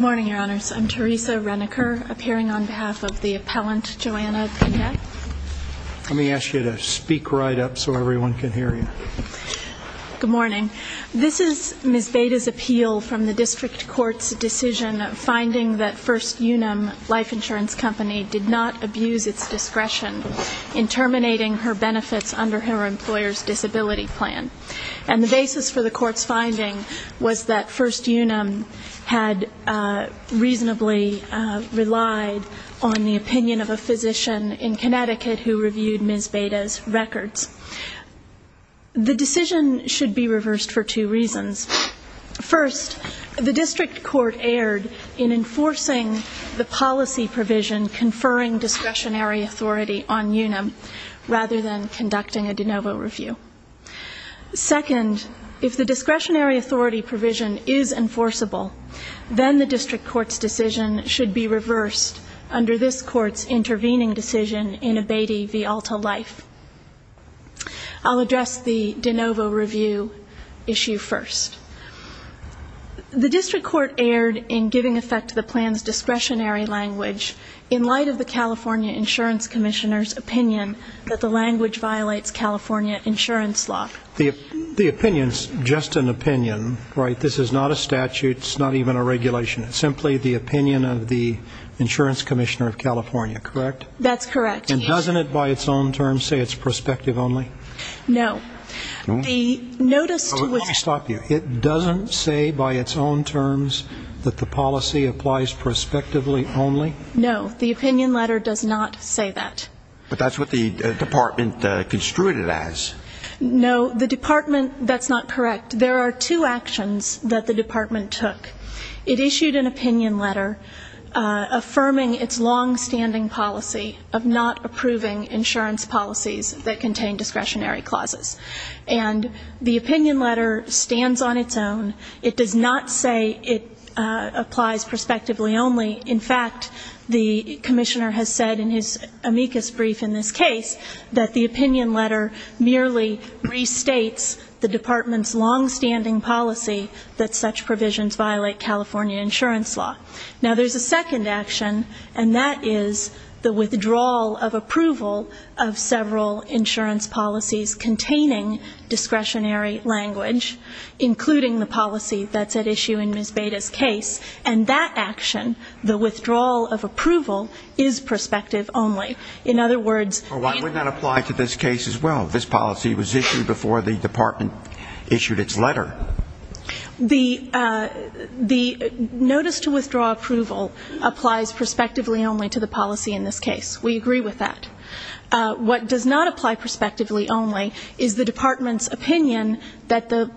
al. Good morning, Your Honors. I'm Teresa Reneker, appearing on behalf of the appellant, Joanna Pineda. Let me ask you to speak right up so everyone can hear you. Good morning. This is Ms. Baida's appeal from the district court's decision finding that First Unum Life Insurance Company did not abuse its discretion in terminating her benefits under her employer's disability plan. And the basis for the court's finding was that First Unum had reasonably relied on the opinion of a physician in Connecticut who reviewed Ms. Baida's records. The decision should be reversed for two reasons. First, the district court erred in enforcing the policy provision conferring discretionary authority on Unum rather than conducting a de novo review. Second, if the discretionary authority provision is enforceable, then the district court's decision should be reversed under this court's intervening decision in abating v. Alta Life. I'll address the de novo review issue first. The district court erred in giving effect to the plan's discretionary language in light of the California Insurance Commissioner's opinion that the language violates California insurance law. The opinion's just an opinion, right? This is not a statute. It's not even a regulation. It's simply the opinion of the Insurance Commissioner of California, correct? That's correct. And doesn't it by its own terms say it's prospective only? No. The notice to which Let me stop you. It doesn't say by its own terms that the policy applies prospectively only? No. The opinion letter does not say that. But that's what the department construed it as. No. The department, that's not correct. There are two actions that the department took. It issued an opinion letter affirming its longstanding policy of not approving insurance policies that contain discretionary clauses. And the opinion letter stands on its own. It does not say it applies prospectively only. In fact, the commissioner has said in his amicus brief in this case that the opinion letter merely restates the department's longstanding policy that such provisions violate California insurance law. Now, there's a second action, and that is the withdrawal of approval of several insurance policies containing discretionary language, including the policy that's at issue in Ms. Beda's case. And that action, the withdrawal of approval, is prospective only. In other words... Well, why would that apply to this case as well? This policy was issued before the department issued its letter. The notice to withdraw approval applies prospectively only to the policy in this case. We agree with that. What does not apply prospectively only is the department's opinion that the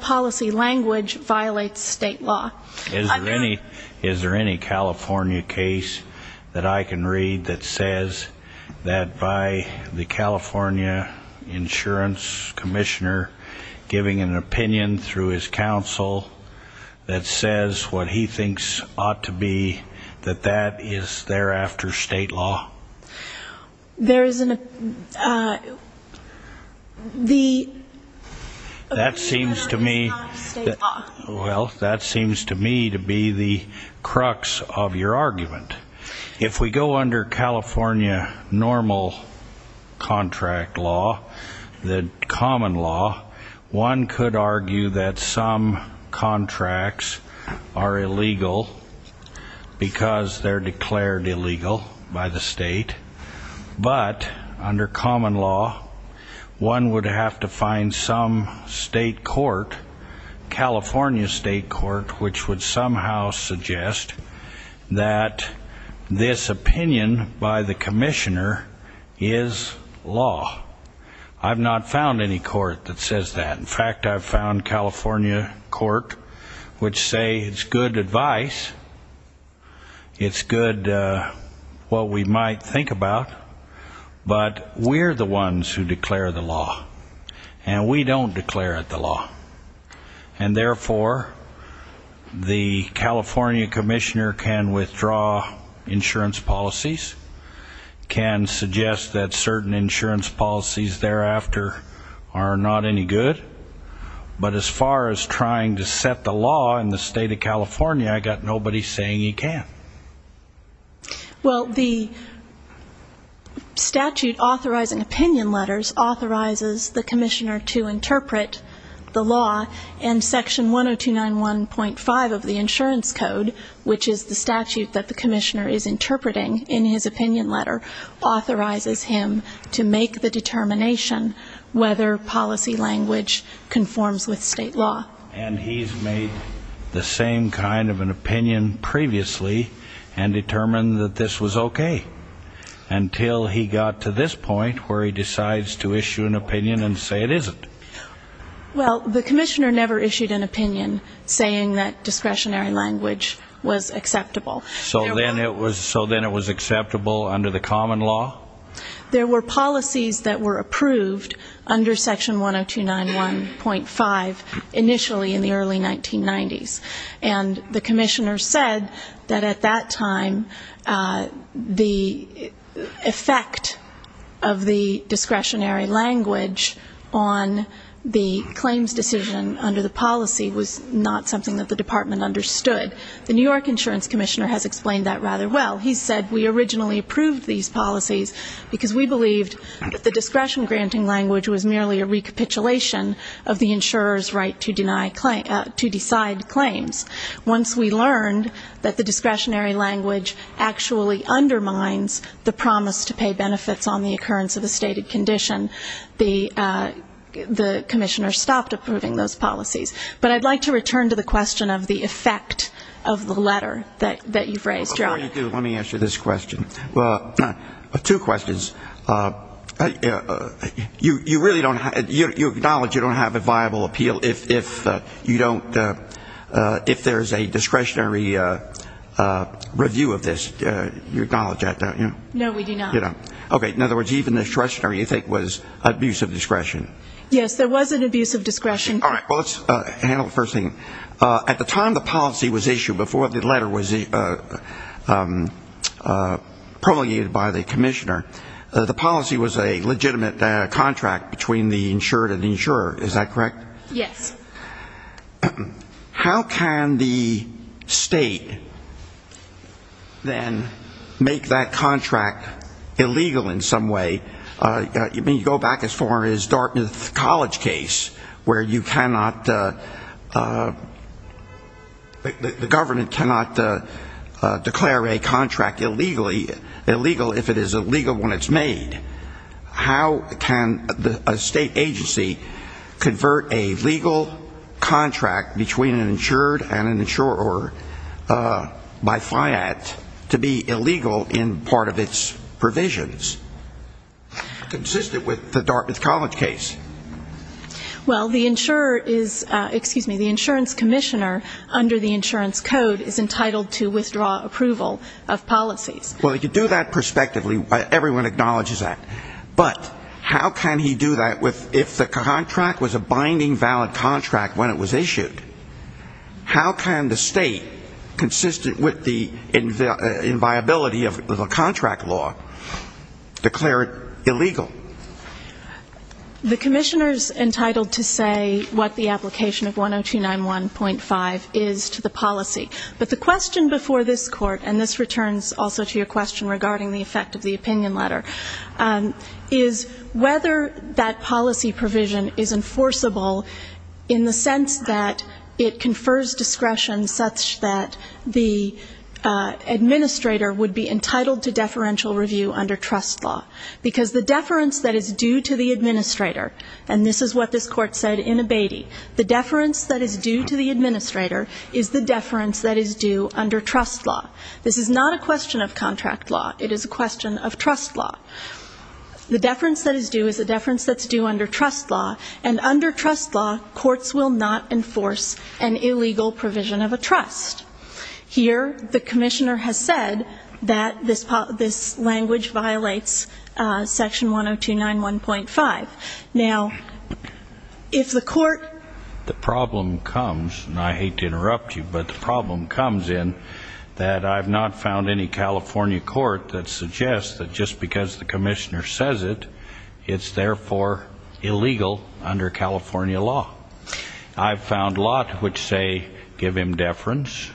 policy language violates state law. Is there any California case that I can read that says that by the California insurance commissioner giving an opinion through his counsel that says what he thinks ought to be that that is thereafter state law? There is an... The opinion letter is not state law. Well, that seems to me to be the crux of your argument. If we go under California normal contract law, the common law, one could argue that some contracts are illegal because they're declared illegal by the state. But under common law, one would have to find some state court, California state court, which would somehow suggest that this opinion by the commissioner is law. I've not found any court that says that. In fact, I've found California court which say it's good advice. It's good what we might think about, but we're the ones who declare the law and we don't declare it the law. And therefore, the California commissioner can withdraw insurance policies, can suggest that certain insurance policies thereafter are not any good. But as far as trying to set the law in the state of California, I got nobody saying he can. Well, the statute authorizing opinion letters authorizes the commissioner to interpret the law and section 10291.5 of the insurance code, which is the statute that the commissioner is interpreting in his opinion letter, authorizes him to make the determination whether policy and language conforms with state law. And he's made the same kind of an opinion previously and determined that this was okay until he got to this point where he decides to issue an opinion and say it isn't. Well, the commissioner never issued an opinion saying that discretionary language was acceptable. So then it was acceptable under the common law? There were policies that were approved under section 10291.5 initially in the early 1990s. And the commissioner said that at that time the effect of the discretionary language on the claims decision under the policy was not something that the department understood. The New York insurance commissioner has explained that rather well. He said we originally approved these policies because we believed that the discretion granting language was merely a recapitulation of the insurer's right to decide claims. Once we learned that the discretionary language actually undermines the promise to pay benefits on the occurrence of a stated condition, the commissioner stopped approving those policies. But I'd like to return to the question of the effect of the letter that you've raised, Mr. O'Brien. Before you do, let me answer this question. Two questions. You acknowledge you don't have a viable appeal if there's a discretionary review of this? You acknowledge that, don't you? No, we do not. Okay. In other words, even the discretionary you think was abuse of discretion? Yes, there was an abuse of discretion. All right. Well, let's handle the first thing. At the time the policy was issued, before the letter was promulgated by the commissioner, the policy was a legitimate contract between the insured and the insurer. Is that correct? Yes. How can the state then make that contract illegal in some way? I mean, you go back as far as Dartmouth College case, where you cannot, the government cannot declare a contract illegal if it is illegal when it's made. How can a state agency convert a legal contract between an insured and an insurer by FIAT to be illegal in part of its provisions, consistent with the Dartmouth College case? Well, the insurer is, excuse me, the insurance commissioner under the insurance code is entitled to withdraw approval of policies. Well, you do that prospectively. Everyone acknowledges that. But how can he do that if the contract was a binding valid contract when it was issued? How can the state, consistent with the inviability of a contract law, declare it illegal? The commissioner is entitled to say what the application of 10291.5 is to the policy. But the question before this court, and this returns also to your question regarding the effect of the opinion letter, is whether that policy provision is enforceable in the sense that it confers discretion such that the administrator would be entitled to deferential review under trust law. Because the deference that is due to the administrator, and this is what this court said in Abatey, the deference that is due to the administrator is the deference that is due under trust law. This is not a question of contract law. It is a question of trust law. The deference that is due is a deference that's due under trust law. And under trust law, courts will not enforce an illegal provision of a trust. Here, the commissioner has said that this language violates section 10291.5. Now, if the court- That suggests that just because the commissioner says it, it's therefore illegal under California law. I've found a lot which say, give him deference.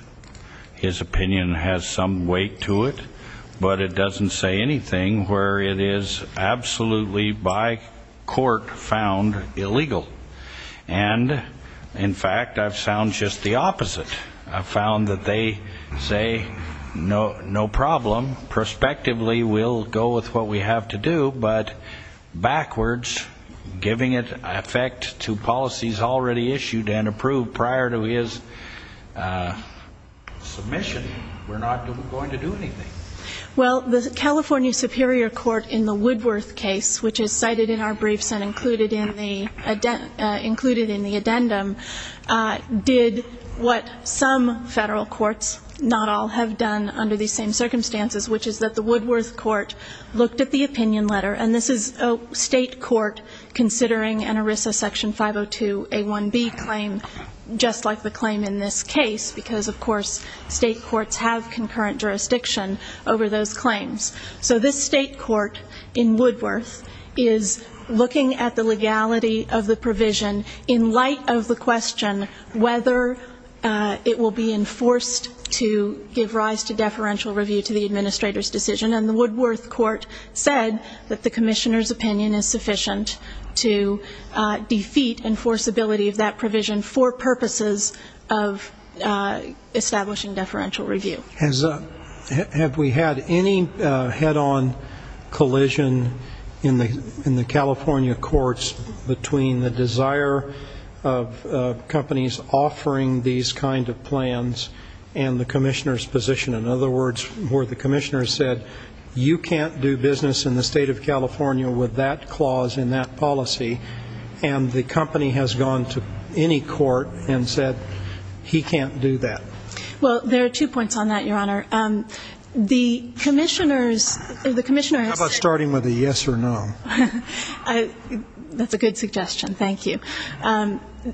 His opinion has some weight to it. But it doesn't say anything where it is absolutely by court found illegal. And in fact, I've found just the opposite. I've found that they say, no problem, prospectively we'll go with what we have to do. But backwards, giving it effect to policies already issued and approved prior to his submission, we're not going to do anything. Well, the California Superior Court in the Woodworth case, which is cited in our briefs and included in the addendum, did what some federal courts, not all, have done under these same circumstances, which is that the Woodworth court looked at the opinion letter. And this is a state court considering an ERISA section 502A1B claim, just like the claim in this case. Because, of course, state courts have concurrent jurisdiction over those claims. So this state court in Woodworth is looking at the legality of the provision in light of the question whether it will be enforced to give rise to deferential review to the administrator's decision. And the Woodworth court said that the commissioner's opinion is sufficient to defeat enforceability of that provision for purposes of establishing deferential review. Have we had any head-on collision in the California courts between the desire of companies offering these kind of plans and the commissioner's position? In other words, where the commissioner said, you can't do business in the state of California with that clause and that policy. And the company has gone to any court and said, he can't do that. Well, there are two points on that, your honor. The commissioners, the commissioners- How about starting with a yes or no? That's a good suggestion, thank you.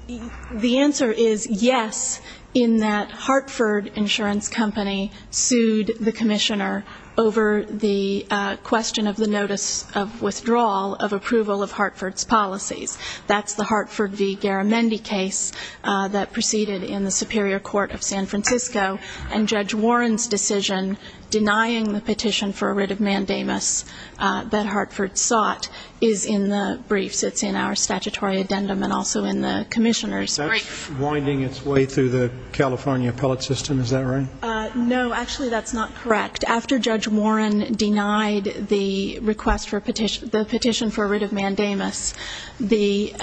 The answer is yes, in that Hartford Insurance Company sued the commissioner over the question of the notice of withdrawal of approval of Hartford's policies. That's the Hartford v. Garamendi case that proceeded in the Superior Court of San Francisco. And Judge Warren's decision denying the petition for a writ of mandamus that Hartford sought is in the briefs. It's in our statutory addendum and also in the commissioner's brief. That's winding its way through the California appellate system, is that right? No, actually that's not correct. After Judge Warren denied the petition for a writ of mandamus, the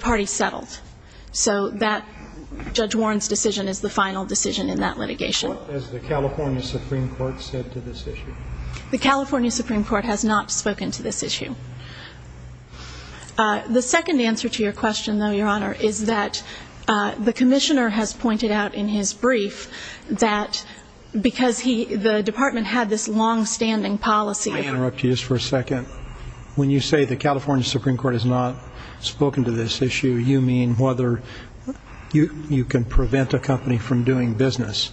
party settled. So that Judge Warren's decision is the final decision in that litigation. What has the California Supreme Court said to this issue? The California Supreme Court has not spoken to this issue. The second answer to your question though, your honor, is that the commissioner has pointed out in his brief that because the department had this longstanding policy- May I interrupt you just for a second? When you say the California Supreme Court has not spoken to this issue, you mean whether you can prevent a company from doing business.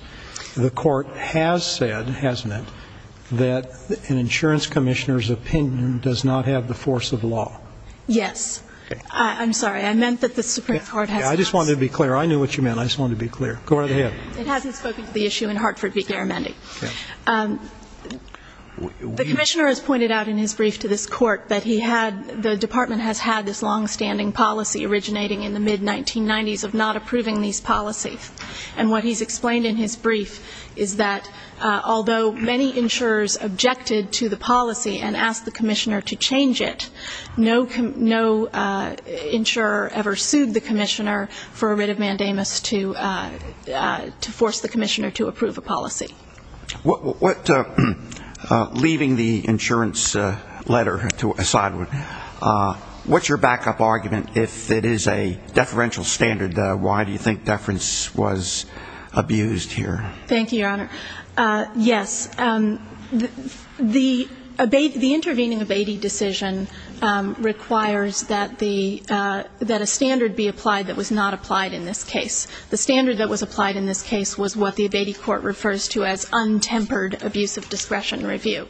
The court has said, hasn't it, that an insurance commissioner's opinion does not have the force of law. Yes. I'm sorry, I meant that the Supreme Court has- I just wanted to be clear. I knew what you meant. I just wanted to be clear. Go right ahead. It hasn't spoken to the issue in Hartford v. Garamendi. The commissioner has pointed out in his brief to this court that he had, the department has had this longstanding policy originating in the mid-1990s of not approving these policies. And what he's explained in his brief is that although many insurers objected to the policy and asked the commissioner to change it, no insurer ever sued the commissioner for a writ of mandamus to force the commissioner to approve a policy. What, leaving the insurance letter to a side one, what's your backup argument if it is a deferential standard? Why do you think deference was abused here? Thank you, your honor. Yes, the intervening abating decision requires that a standard be applied that was not applied in this case. The standard that was applied in this case was what the abating court refers to as untempered abuse of discretion review.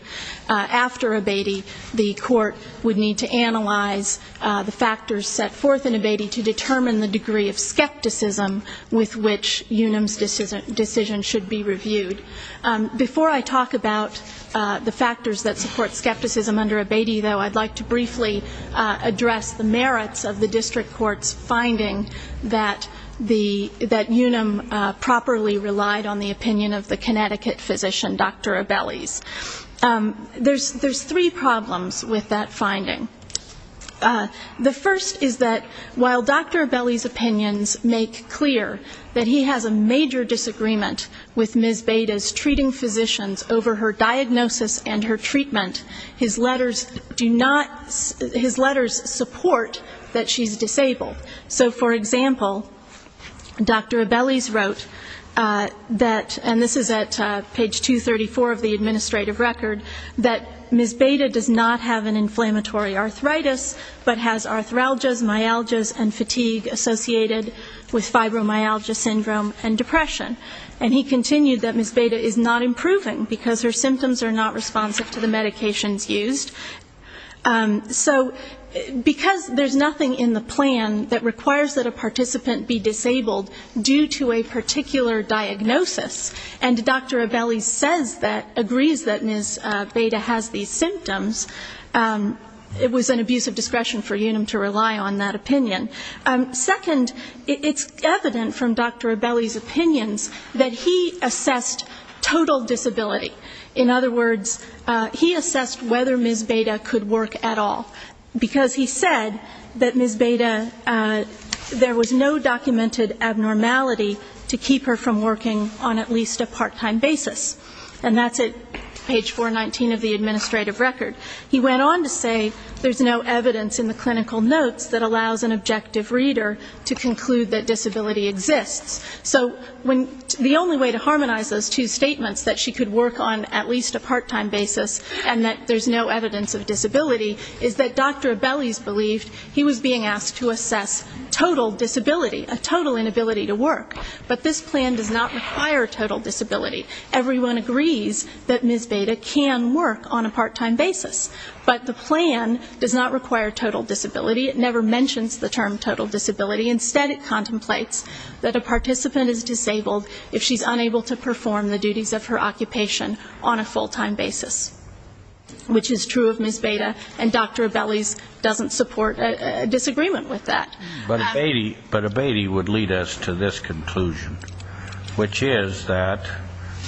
After abating, the court would need to analyze the factors set forth in abating to determine the degree of skepticism with which Unum's decision should be reviewed. Before I talk about the factors that support skepticism under abating though, I'd like to briefly address the merits of the district court's finding that Unum properly relied on the opinion of the Connecticut physician, Dr. Abeli's. There's three problems with that finding. The first is that while Dr. Abeli's opinions make clear that he has a major disagreement with Ms. Beda's treating physicians over her diagnosis and her treatment. His letters do not, his letters support that she's disabled. So for example, Dr. Abeli's wrote that, and this is at page 234 of the administrative record, that Ms. Beda does not have an inflammatory arthritis, but has arthralgias, myalgias, and fatigue associated with fibromyalgia syndrome and depression. And he continued that Ms. Beda is not improving because her symptoms are not responsive to the medications used. So because there's nothing in the plan that requires that a participant be disabled due to a particular diagnosis, and Dr. Abeli says that, agrees that Ms. Beda has these symptoms, it was an abuse of discretion for Unum to rely on that opinion. Second, it's evident from Dr. Abeli's opinions that he assessed total disability. In other words, he assessed whether Ms. Beda could work at all, because he said that Ms. Beda, there was no documented abnormality to keep her from working on at least a part-time basis, and that's at page 419 of the administrative record. He went on to say there's no evidence in the clinical notes that allows an objective reader to conclude that disability exists. So the only way to harmonize those two statements, that she could work on at least a part-time basis, and that there's no evidence of disability, is that Dr. Abeli's believed he was being asked to assess total disability, a total inability to work, but this plan does not require total disability. Everyone agrees that Ms. Beda can work on a part-time basis, but the plan does not require total disability. It never mentions the term total disability. Instead, it contemplates that a participant is disabled if she's unable to perform the duties of her occupation on a full-time basis, which is true of Ms. Beda, and Dr. Abeli's doesn't support a disagreement with that. But Abedi would lead us to this conclusion, which is that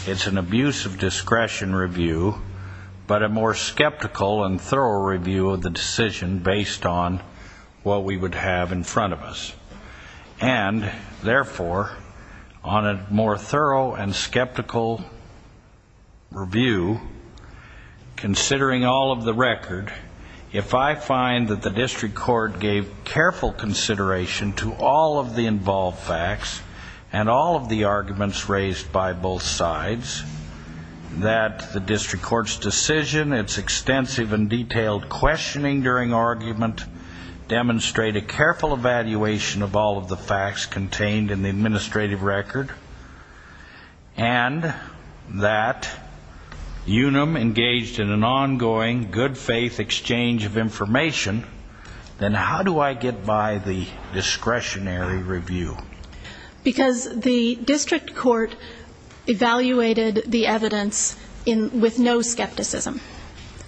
it's an abuse of discretion review, but a more skeptical and thorough review of the decision based on what we would have in front of us. And, therefore, on a more thorough and skeptical review, considering all of the record, if I find that the district court gave careful consideration to all of the involved facts and all of the arguments raised by both sides, that the district court's decision, its extensive and detailed questioning during argument, demonstrate a careful evaluation of all of the facts contained in the administrative record, and that UNUM engaged in an ongoing good faith exchange of information, then how do I get by the discretionary review? Because the district court evaluated the evidence with no skepticism,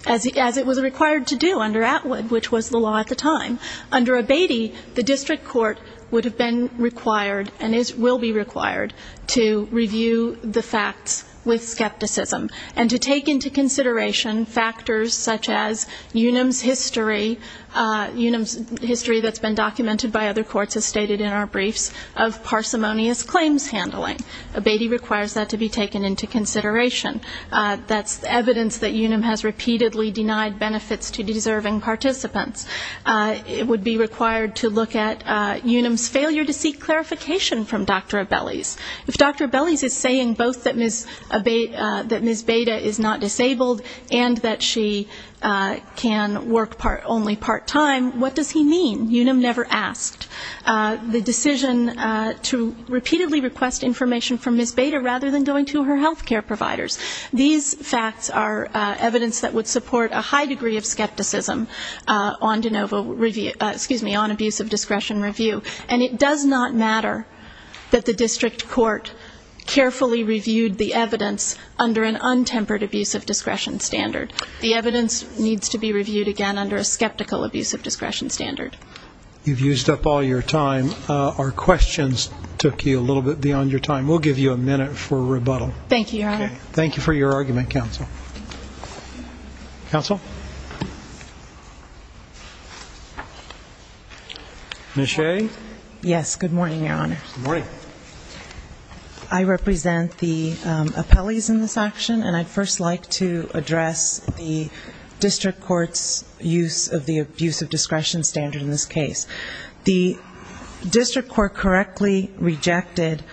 as it was required to do under Atwood, which was the law at the time. Under Abedi, the district court would have been required and will be required to review the facts with skepticism and to take into consideration factors such as UNUM's history, UNUM's history that's been documented by other courts as stated in our briefs, of parsimonious claims handling. Abedi requires that to be taken into consideration. That's evidence that UNUM has repeatedly denied benefits to deserving participants. It would be required to look at UNUM's failure to seek clarification from Dr. Abeli's. If Dr. Abeli's is saying both that Ms. Beda is not disabled and that she can work only part-time, what does he mean? UNUM never asked. The decision to repeatedly request information from Ms. Beda rather than going to her health care providers. These facts are evidence that would support a high degree of skepticism on abusive discretion review. And it does not matter that the district court carefully reviewed the evidence under an untempered abusive discretion standard. The evidence needs to be reviewed again under a skeptical abusive discretion standard. You've used up all your time. Our questions took you a little bit beyond your time. We'll give you a minute for rebuttal. Thank you, Your Honor. Thank you for your argument, counsel. Counsel? Yes, good morning, Your Honor. Good morning. I represent the appellees in this action, and I'd first like to address the district court's use of the abusive discretion standard in this case. The district court correctly rejected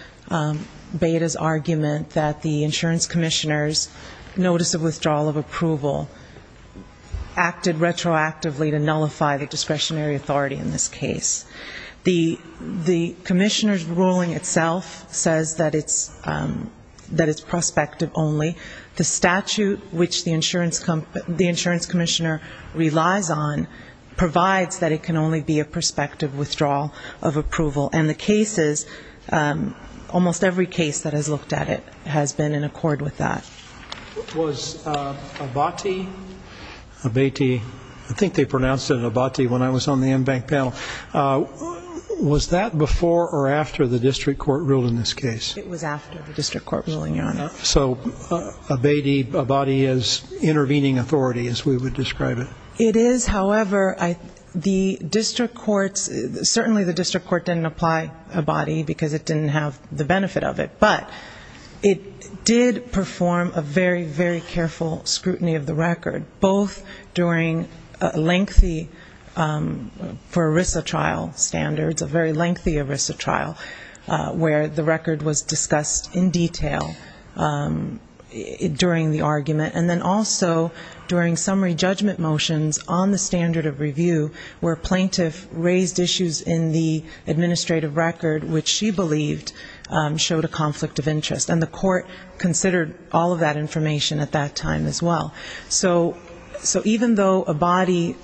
Beda's argument that the insurance commissioner's notice of withdrawal of approval acted retroactively to nullify the discretionary authority in this case. The commissioner's ruling itself says that it's prospective only. The statute which the insurance commissioner relies on provides that it can only be a prospective withdrawal of approval, and the cases, almost every case that has looked at it has been in accord with that. Was Abati, I think they pronounced it Abati when I was on the in-bank panel, was that before or after the district court ruled in this case? It was after the district court ruling, Your Honor. So Abati is intervening authority as we would describe it? It is. However, certainly the district court didn't apply Abati because it didn't have the benefit of it, but it did perform a very, very careful scrutiny of the record, both during a lengthy for ERISA trial standards, a very lengthy ERISA trial, where the record was discussed in detail during the argument, and then also during summary judgment motions on the standard of review where a plaintiff raised issues in the administrative record which she believed showed a conflict of interest, and the court considered all of that information at that time as well. So even though Abati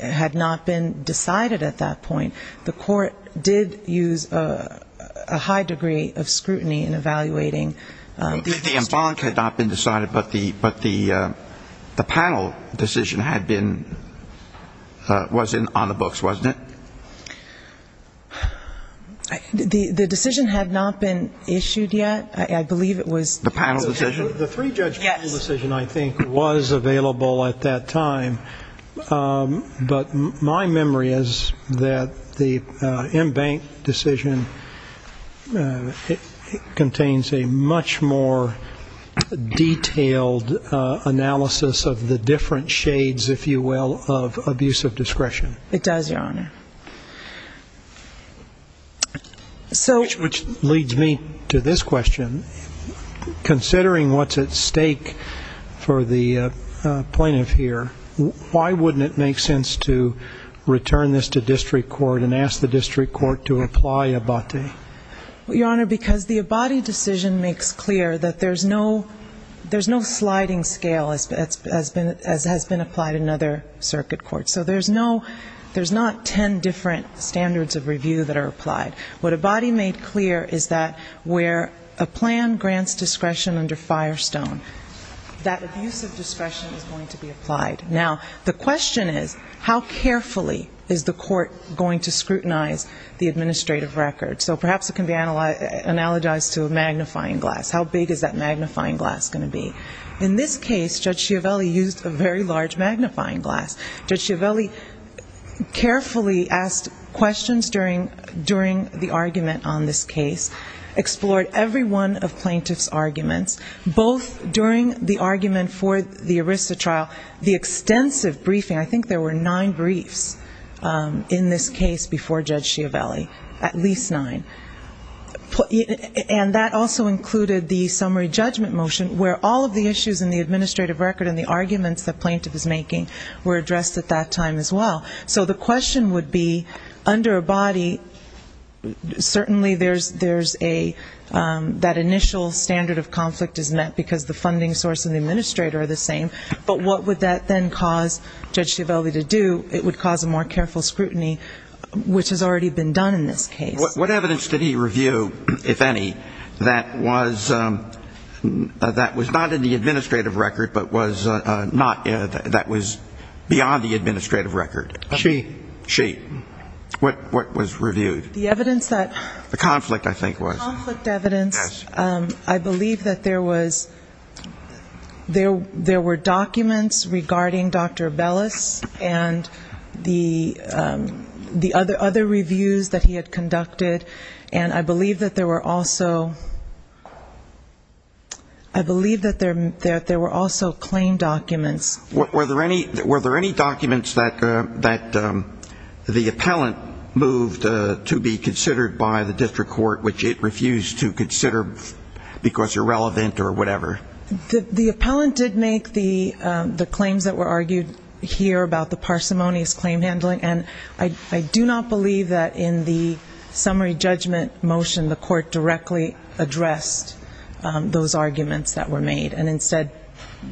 had not been decided at that point, the court did use a high degree of scrutiny in evaluating. The in-bank had not been decided, but the panel decision had been, was on the books, wasn't it? The decision had not been issued yet. I believe it was. The panel decision. The three-judge panel decision, I think, was available at that time, but my memory is that the in-bank decision contains a much more detailed analysis of the different shades, if you will, of abusive discretion. It does, Your Honor. Which leads me to this question. Considering what's at stake for the plaintiff here, why wouldn't it make sense to return this to district court and ask the district court to apply Abati? Your Honor, because the Abati decision makes clear that there's no sliding scale as has been applied in other circuit courts. So there's not 10 different standards of review that are applied. What Abati made clear is that where a plan grants discretion under Firestone, that abusive discretion is going to be applied. Now, the question is, how carefully is the court going to scrutinize the administrative record? So perhaps it can be analogized to a magnifying glass. How big is that magnifying glass going to be? In this case, Judge Schiavelli used a very large magnifying glass. Judge Schiavelli carefully asked questions during the argument on this case, explored every one of plaintiff's arguments, both during the argument for the ERISA trial, the extensive briefing. I think there were nine briefs in this case before Judge Schiavelli, at least nine. And that also included the summary judgment motion, where all of the issues in the administrative record and the arguments the plaintiff is making were addressed at that time as well. So the question would be, under Abati, certainly there's a that initial standard of conflict is met, because the funding source and the administrator are the same. But what would that then cause Judge Schiavelli to do? It would cause a more careful scrutiny, which has already been done in this case. What evidence did he review, if any, that was not in the administrative record, but was beyond the administrative record? She. She. What was reviewed? The evidence that the conflict, I think, was. Conflict evidence. I believe that there was, there were documents regarding Dr. Bellis and the other reviews that he had conducted, and I believe that there were also, I believe that there were also claim documents. Were there any documents that the appellant moved to be considered by the district court, which it refused to consider because irrelevant or whatever? The appellant did make the claims that were argued here about the parsimonious claim handling, and I do not believe that in the summary judgment motion the court directly addressed those arguments that were made, and instead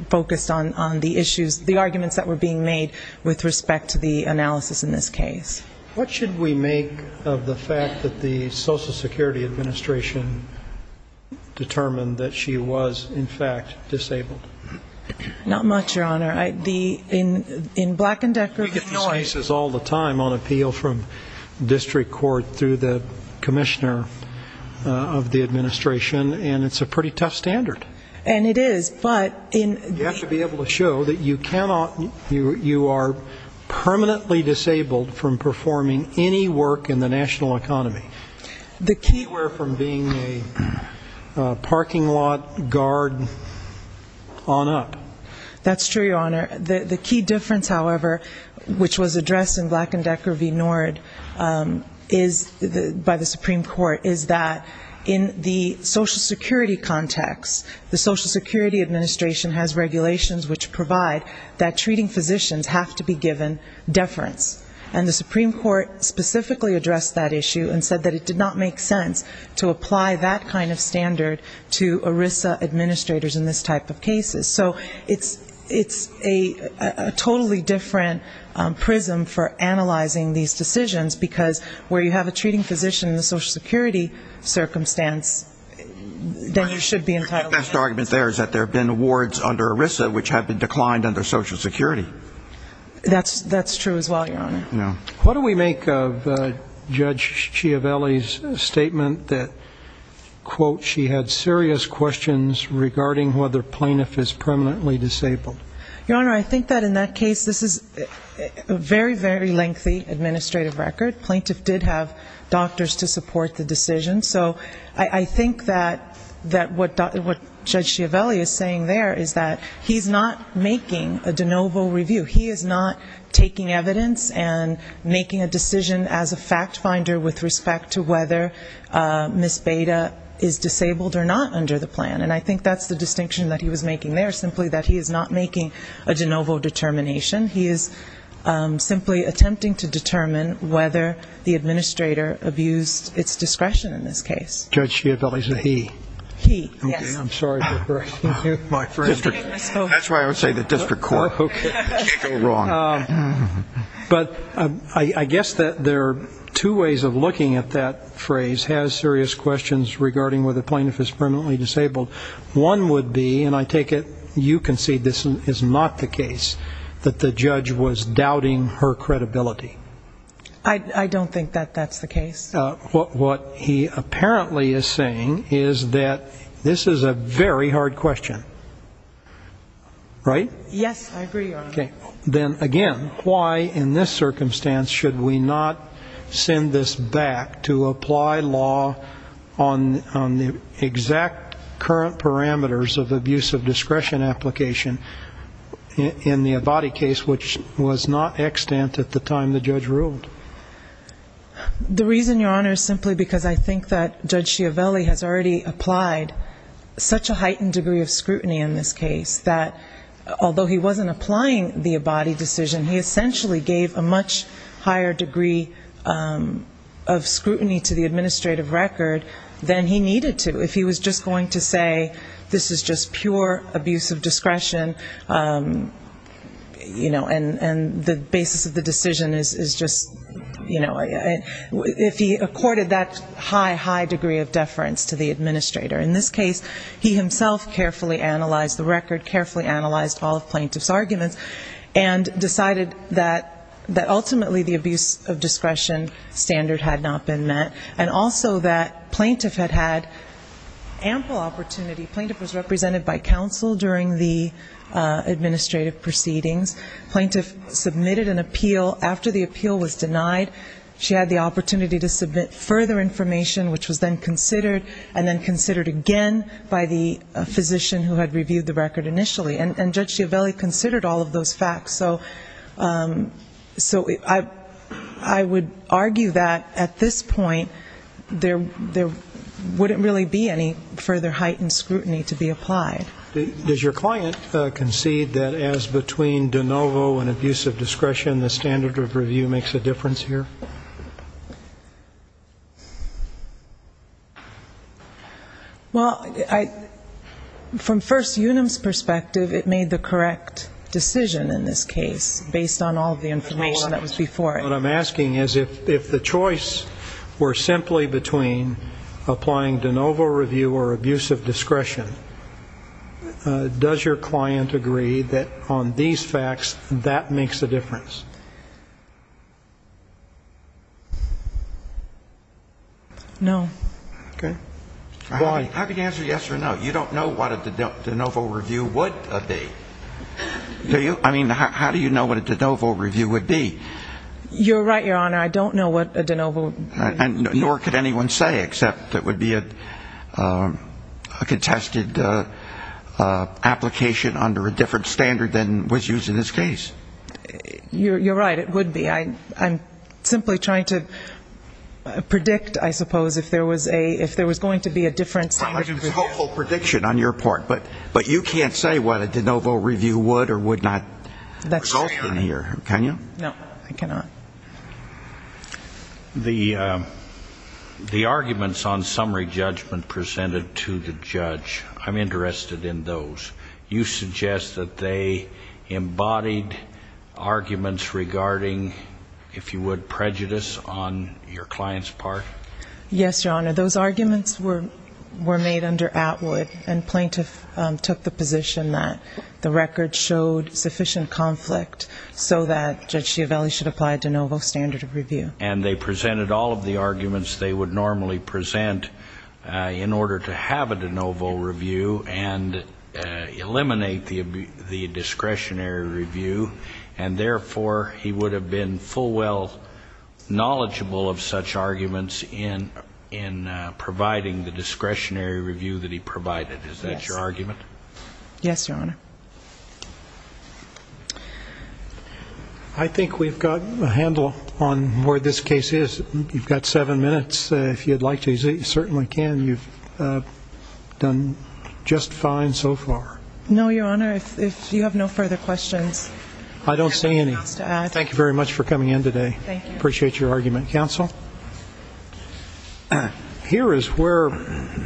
focused on the issues, the arguments that were being made with respect to the analysis in this case. What should we make of the fact that the Social Security Administration determined that she was, in fact, disabled? Not much, Your Honor. In Black and Decker. We get these cases all the time on appeal from district court through the commissioner of the administration, and it's a pretty tough standard. And it is, but in. You have to be able to show that you cannot, you are permanently disabled from performing any work in the national economy. The key, we're from being a parking lot guard on up. That's true, Your Honor. The key difference, however, which was addressed in Black and Decker v. Nord by the Supreme Court is that in the Social Security context, the Social Security Administration has regulations which provide that treating physicians have to be given deference. And the Supreme Court specifically addressed that issue and said that it did not make sense to apply that kind of standard to ERISA administrators in this type of cases. It's a totally different prism for analyzing these decisions, because where you have a treating physician in the Social Security circumstance, then you should be entitled to that. The best argument there is that there have been awards under ERISA which have been declined under Social Security. That's true as well, Your Honor. What do we make of Judge Ciavelli's statement that, quote, she had serious questions regarding whether plaintiff is permanently disabled? Your Honor, I think that in that case, this is a very, very lengthy administrative record. Plaintiff did have doctors to support the decision. So I think that what Judge Ciavelli is saying there is that he's not making a de novo review. He is not taking evidence and making a decision as a fact finder with respect to whether Ms. Beda is disabled or not under the plan. And I think that's the distinction that he was making there, simply that he is not making a de novo determination. He is simply attempting to determine whether the administrator abused its discretion in this case. Judge Ciavelli's a he. He, yes. That's why I would say the district court. Okay. But I guess that there are two ways of looking at that phrase, has serious questions regarding whether plaintiff is permanently disabled. One would be, and I take it you concede this is not the case, that the judge was doubting her credibility. I don't think that that's the case. What he apparently is saying is that this is a very hard question. Right? Yes, I agree, Your Honor. Okay. Then again, why in this circumstance should we not send this back to apply law on the exact current parameters of abuse of discretion application in the Avadi case, which was not extant at the time the judge ruled? The reason, Your Honor, is simply because I think that Judge Ciavelli has already applied such a heightened degree of scrutiny in this case, that although he wasn't applying the Avadi decision, he essentially gave a much higher degree of scrutiny to the administrative record than he needed to. If he was just going to say, this is just pure abuse of discretion, you know, and the basis of the decision is just that. If he accorded that high, high degree of deference to the administrator. In this case, he himself carefully analyzed the record, carefully analyzed all of plaintiff's arguments, and decided that ultimately the abuse of discretion standard had not been met, and also that plaintiff had had ample opportunity. Plaintiff was represented by counsel during the administrative proceedings. Plaintiff submitted an appeal. After the appeal was denied, she had the opportunity to submit further information, which was then considered, and then considered again by the physician who had reviewed the record initially. And Judge Ciavelli considered all of those facts. So I would argue that at this point, there wouldn't really be any further heightened scrutiny to be applied. Does your client concede that as between de novo and abuse of discretion, the standard of review makes a difference here? Well, I, from First Unum's perspective, it made the correct decision in this case, based on all of the information that was before it. What I'm asking is if the choice were simply between applying de novo review or abuse of discretion, would that make a difference? Does your client agree that on these facts, that makes a difference? No. Okay. Why? I mean, how can you answer yes or no? You don't know what a de novo review would be. Do you? I mean, how do you know what a de novo review would be? You're right, Your Honor, I don't know what a de novo review would be. It's a hopeful prediction on your part, but you can't say what a de novo review would or would not result in here, can you? No, I cannot. The arguments on summary judgment presented to the judge, I'm interested in those. You suggest that they embodied arguments regarding, if you would, prejudice on your client's part? Yes, Your Honor, those arguments were made under Atwood, and plaintiff took the position that the record showed sufficient conflict, so that Judge Schiavelli should apply a de novo standard of review. And they presented all of the arguments they would normally present in order to have a de novo review and eliminate the discretionary review, and therefore, he would have been full well knowledgeable of such arguments in his case. I'm interested in providing the discretionary review that he provided, is that your argument? Yes, Your Honor. I think we've got a handle on where this case is. You've got seven minutes, if you'd like to, you certainly can, you've done just fine so far. No, Your Honor, if you have no further questions. I don't see any. Thank you very much for coming in today. Appreciate your argument. Counsel? Here is where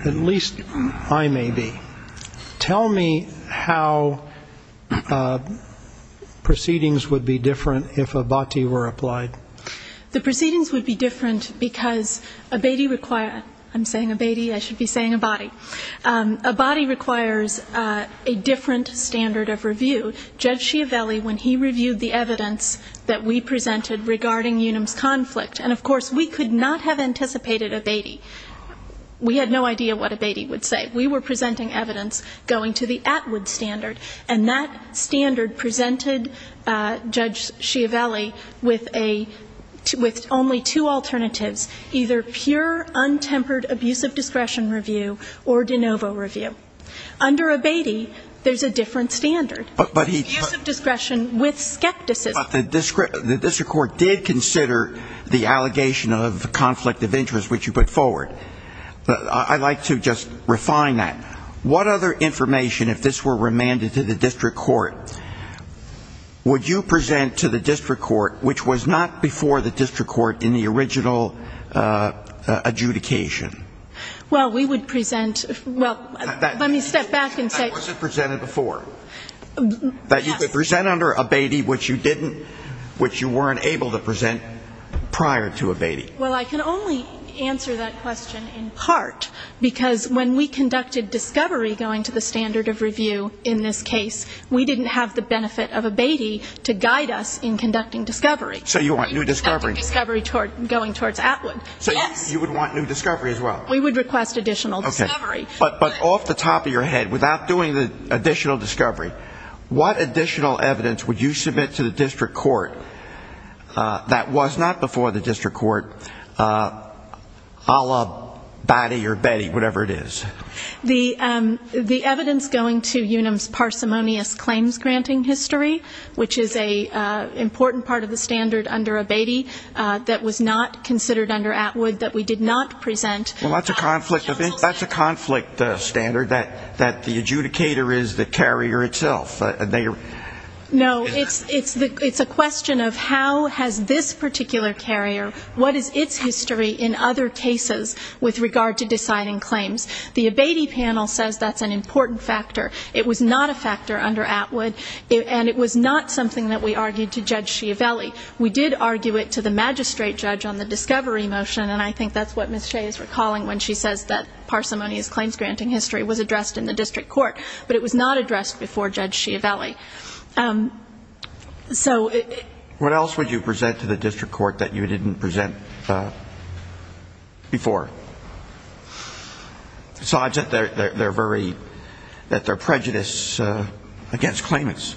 at least I may be. Tell me how proceedings would be different if abati were applied. The proceedings would be different because abati requires, I'm saying abati, I should be saying abati, abati requires a different standard of review. Judge Schiavelli, when he reviewed the evidence that we presented regarding Unum's conflict, and of course, we could not have anticipated abati. We had no idea what abati would say. We were presenting evidence going to the Atwood standard, and that standard presented Judge Schiavelli with only two alternatives, either pure untempered abuse of discretion review or de novo review. Under abati, there's a different standard. Abuse of discretion with skepticism. But the district court did consider the allegation of conflict of interest, which you put forward. I'd like to just refine that. What other information, if this were remanded to the district court, would you present to the district court, which was not before the district court in the original adjudication? Well, we would present, well, let me step back and say. What was it presented before? That you could present under abati, which you didn't, which you weren't able to present prior to abati. Well, I can only answer that question in part, because when we conducted discovery going to the standard of review in this case, we didn't have the benefit of abati to guide us in conducting discovery. So you want new discovery. So you would want new discovery as well. We would request additional discovery. But off the top of your head, without doing the additional discovery, what additional evidence would you submit to the district court that was not before the district court, a la abati or beti, whatever it is? The evidence going to UNAM's parsimonious claims-granting history, which is an important part of the standard under abati. That was not considered under Atwood, that we did not present. Well, that's a conflict standard, that the adjudicator is the carrier itself. No, it's a question of how has this particular carrier, what is its history in other cases with regard to deciding claims. The abati panel says that's an important factor. It was not a factor under Atwood, and it was not something that we argued to Judge Schiavelli. We did argue it to the magistrate judge on the discovery motion, and I think that's what Ms. Shea is recalling when she says that parsimonious claims-granting history was addressed in the district court. But it was not addressed before Judge Schiavelli. What else would you present to the district court that you didn't present before? Besides that they're very, that they're prejudiced against claimants.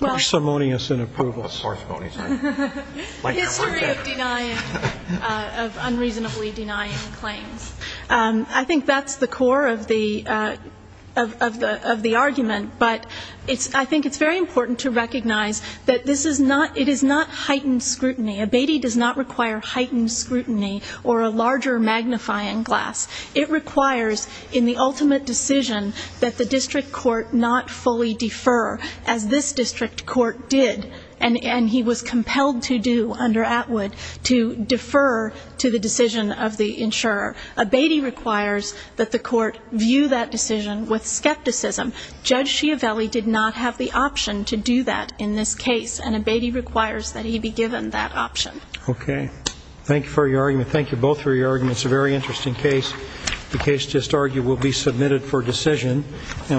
Parsimonious in approvals. History of denying, of unreasonably denying claims. I think that's the core of the argument, but I think it's very important to recognize that this is not, it is not heightened scrutiny. Abati does not require heightened scrutiny or a larger magnifying glass. It requires in the ultimate decision that the district court not fully defer, as this district court did, and he was compelled to do under Atwood to defer to the decision of the insurer. Abati requires that the court view that decision with skepticism. Judge Schiavelli did not have the option to do that in this case, and abati requires that he be given that option. Okay.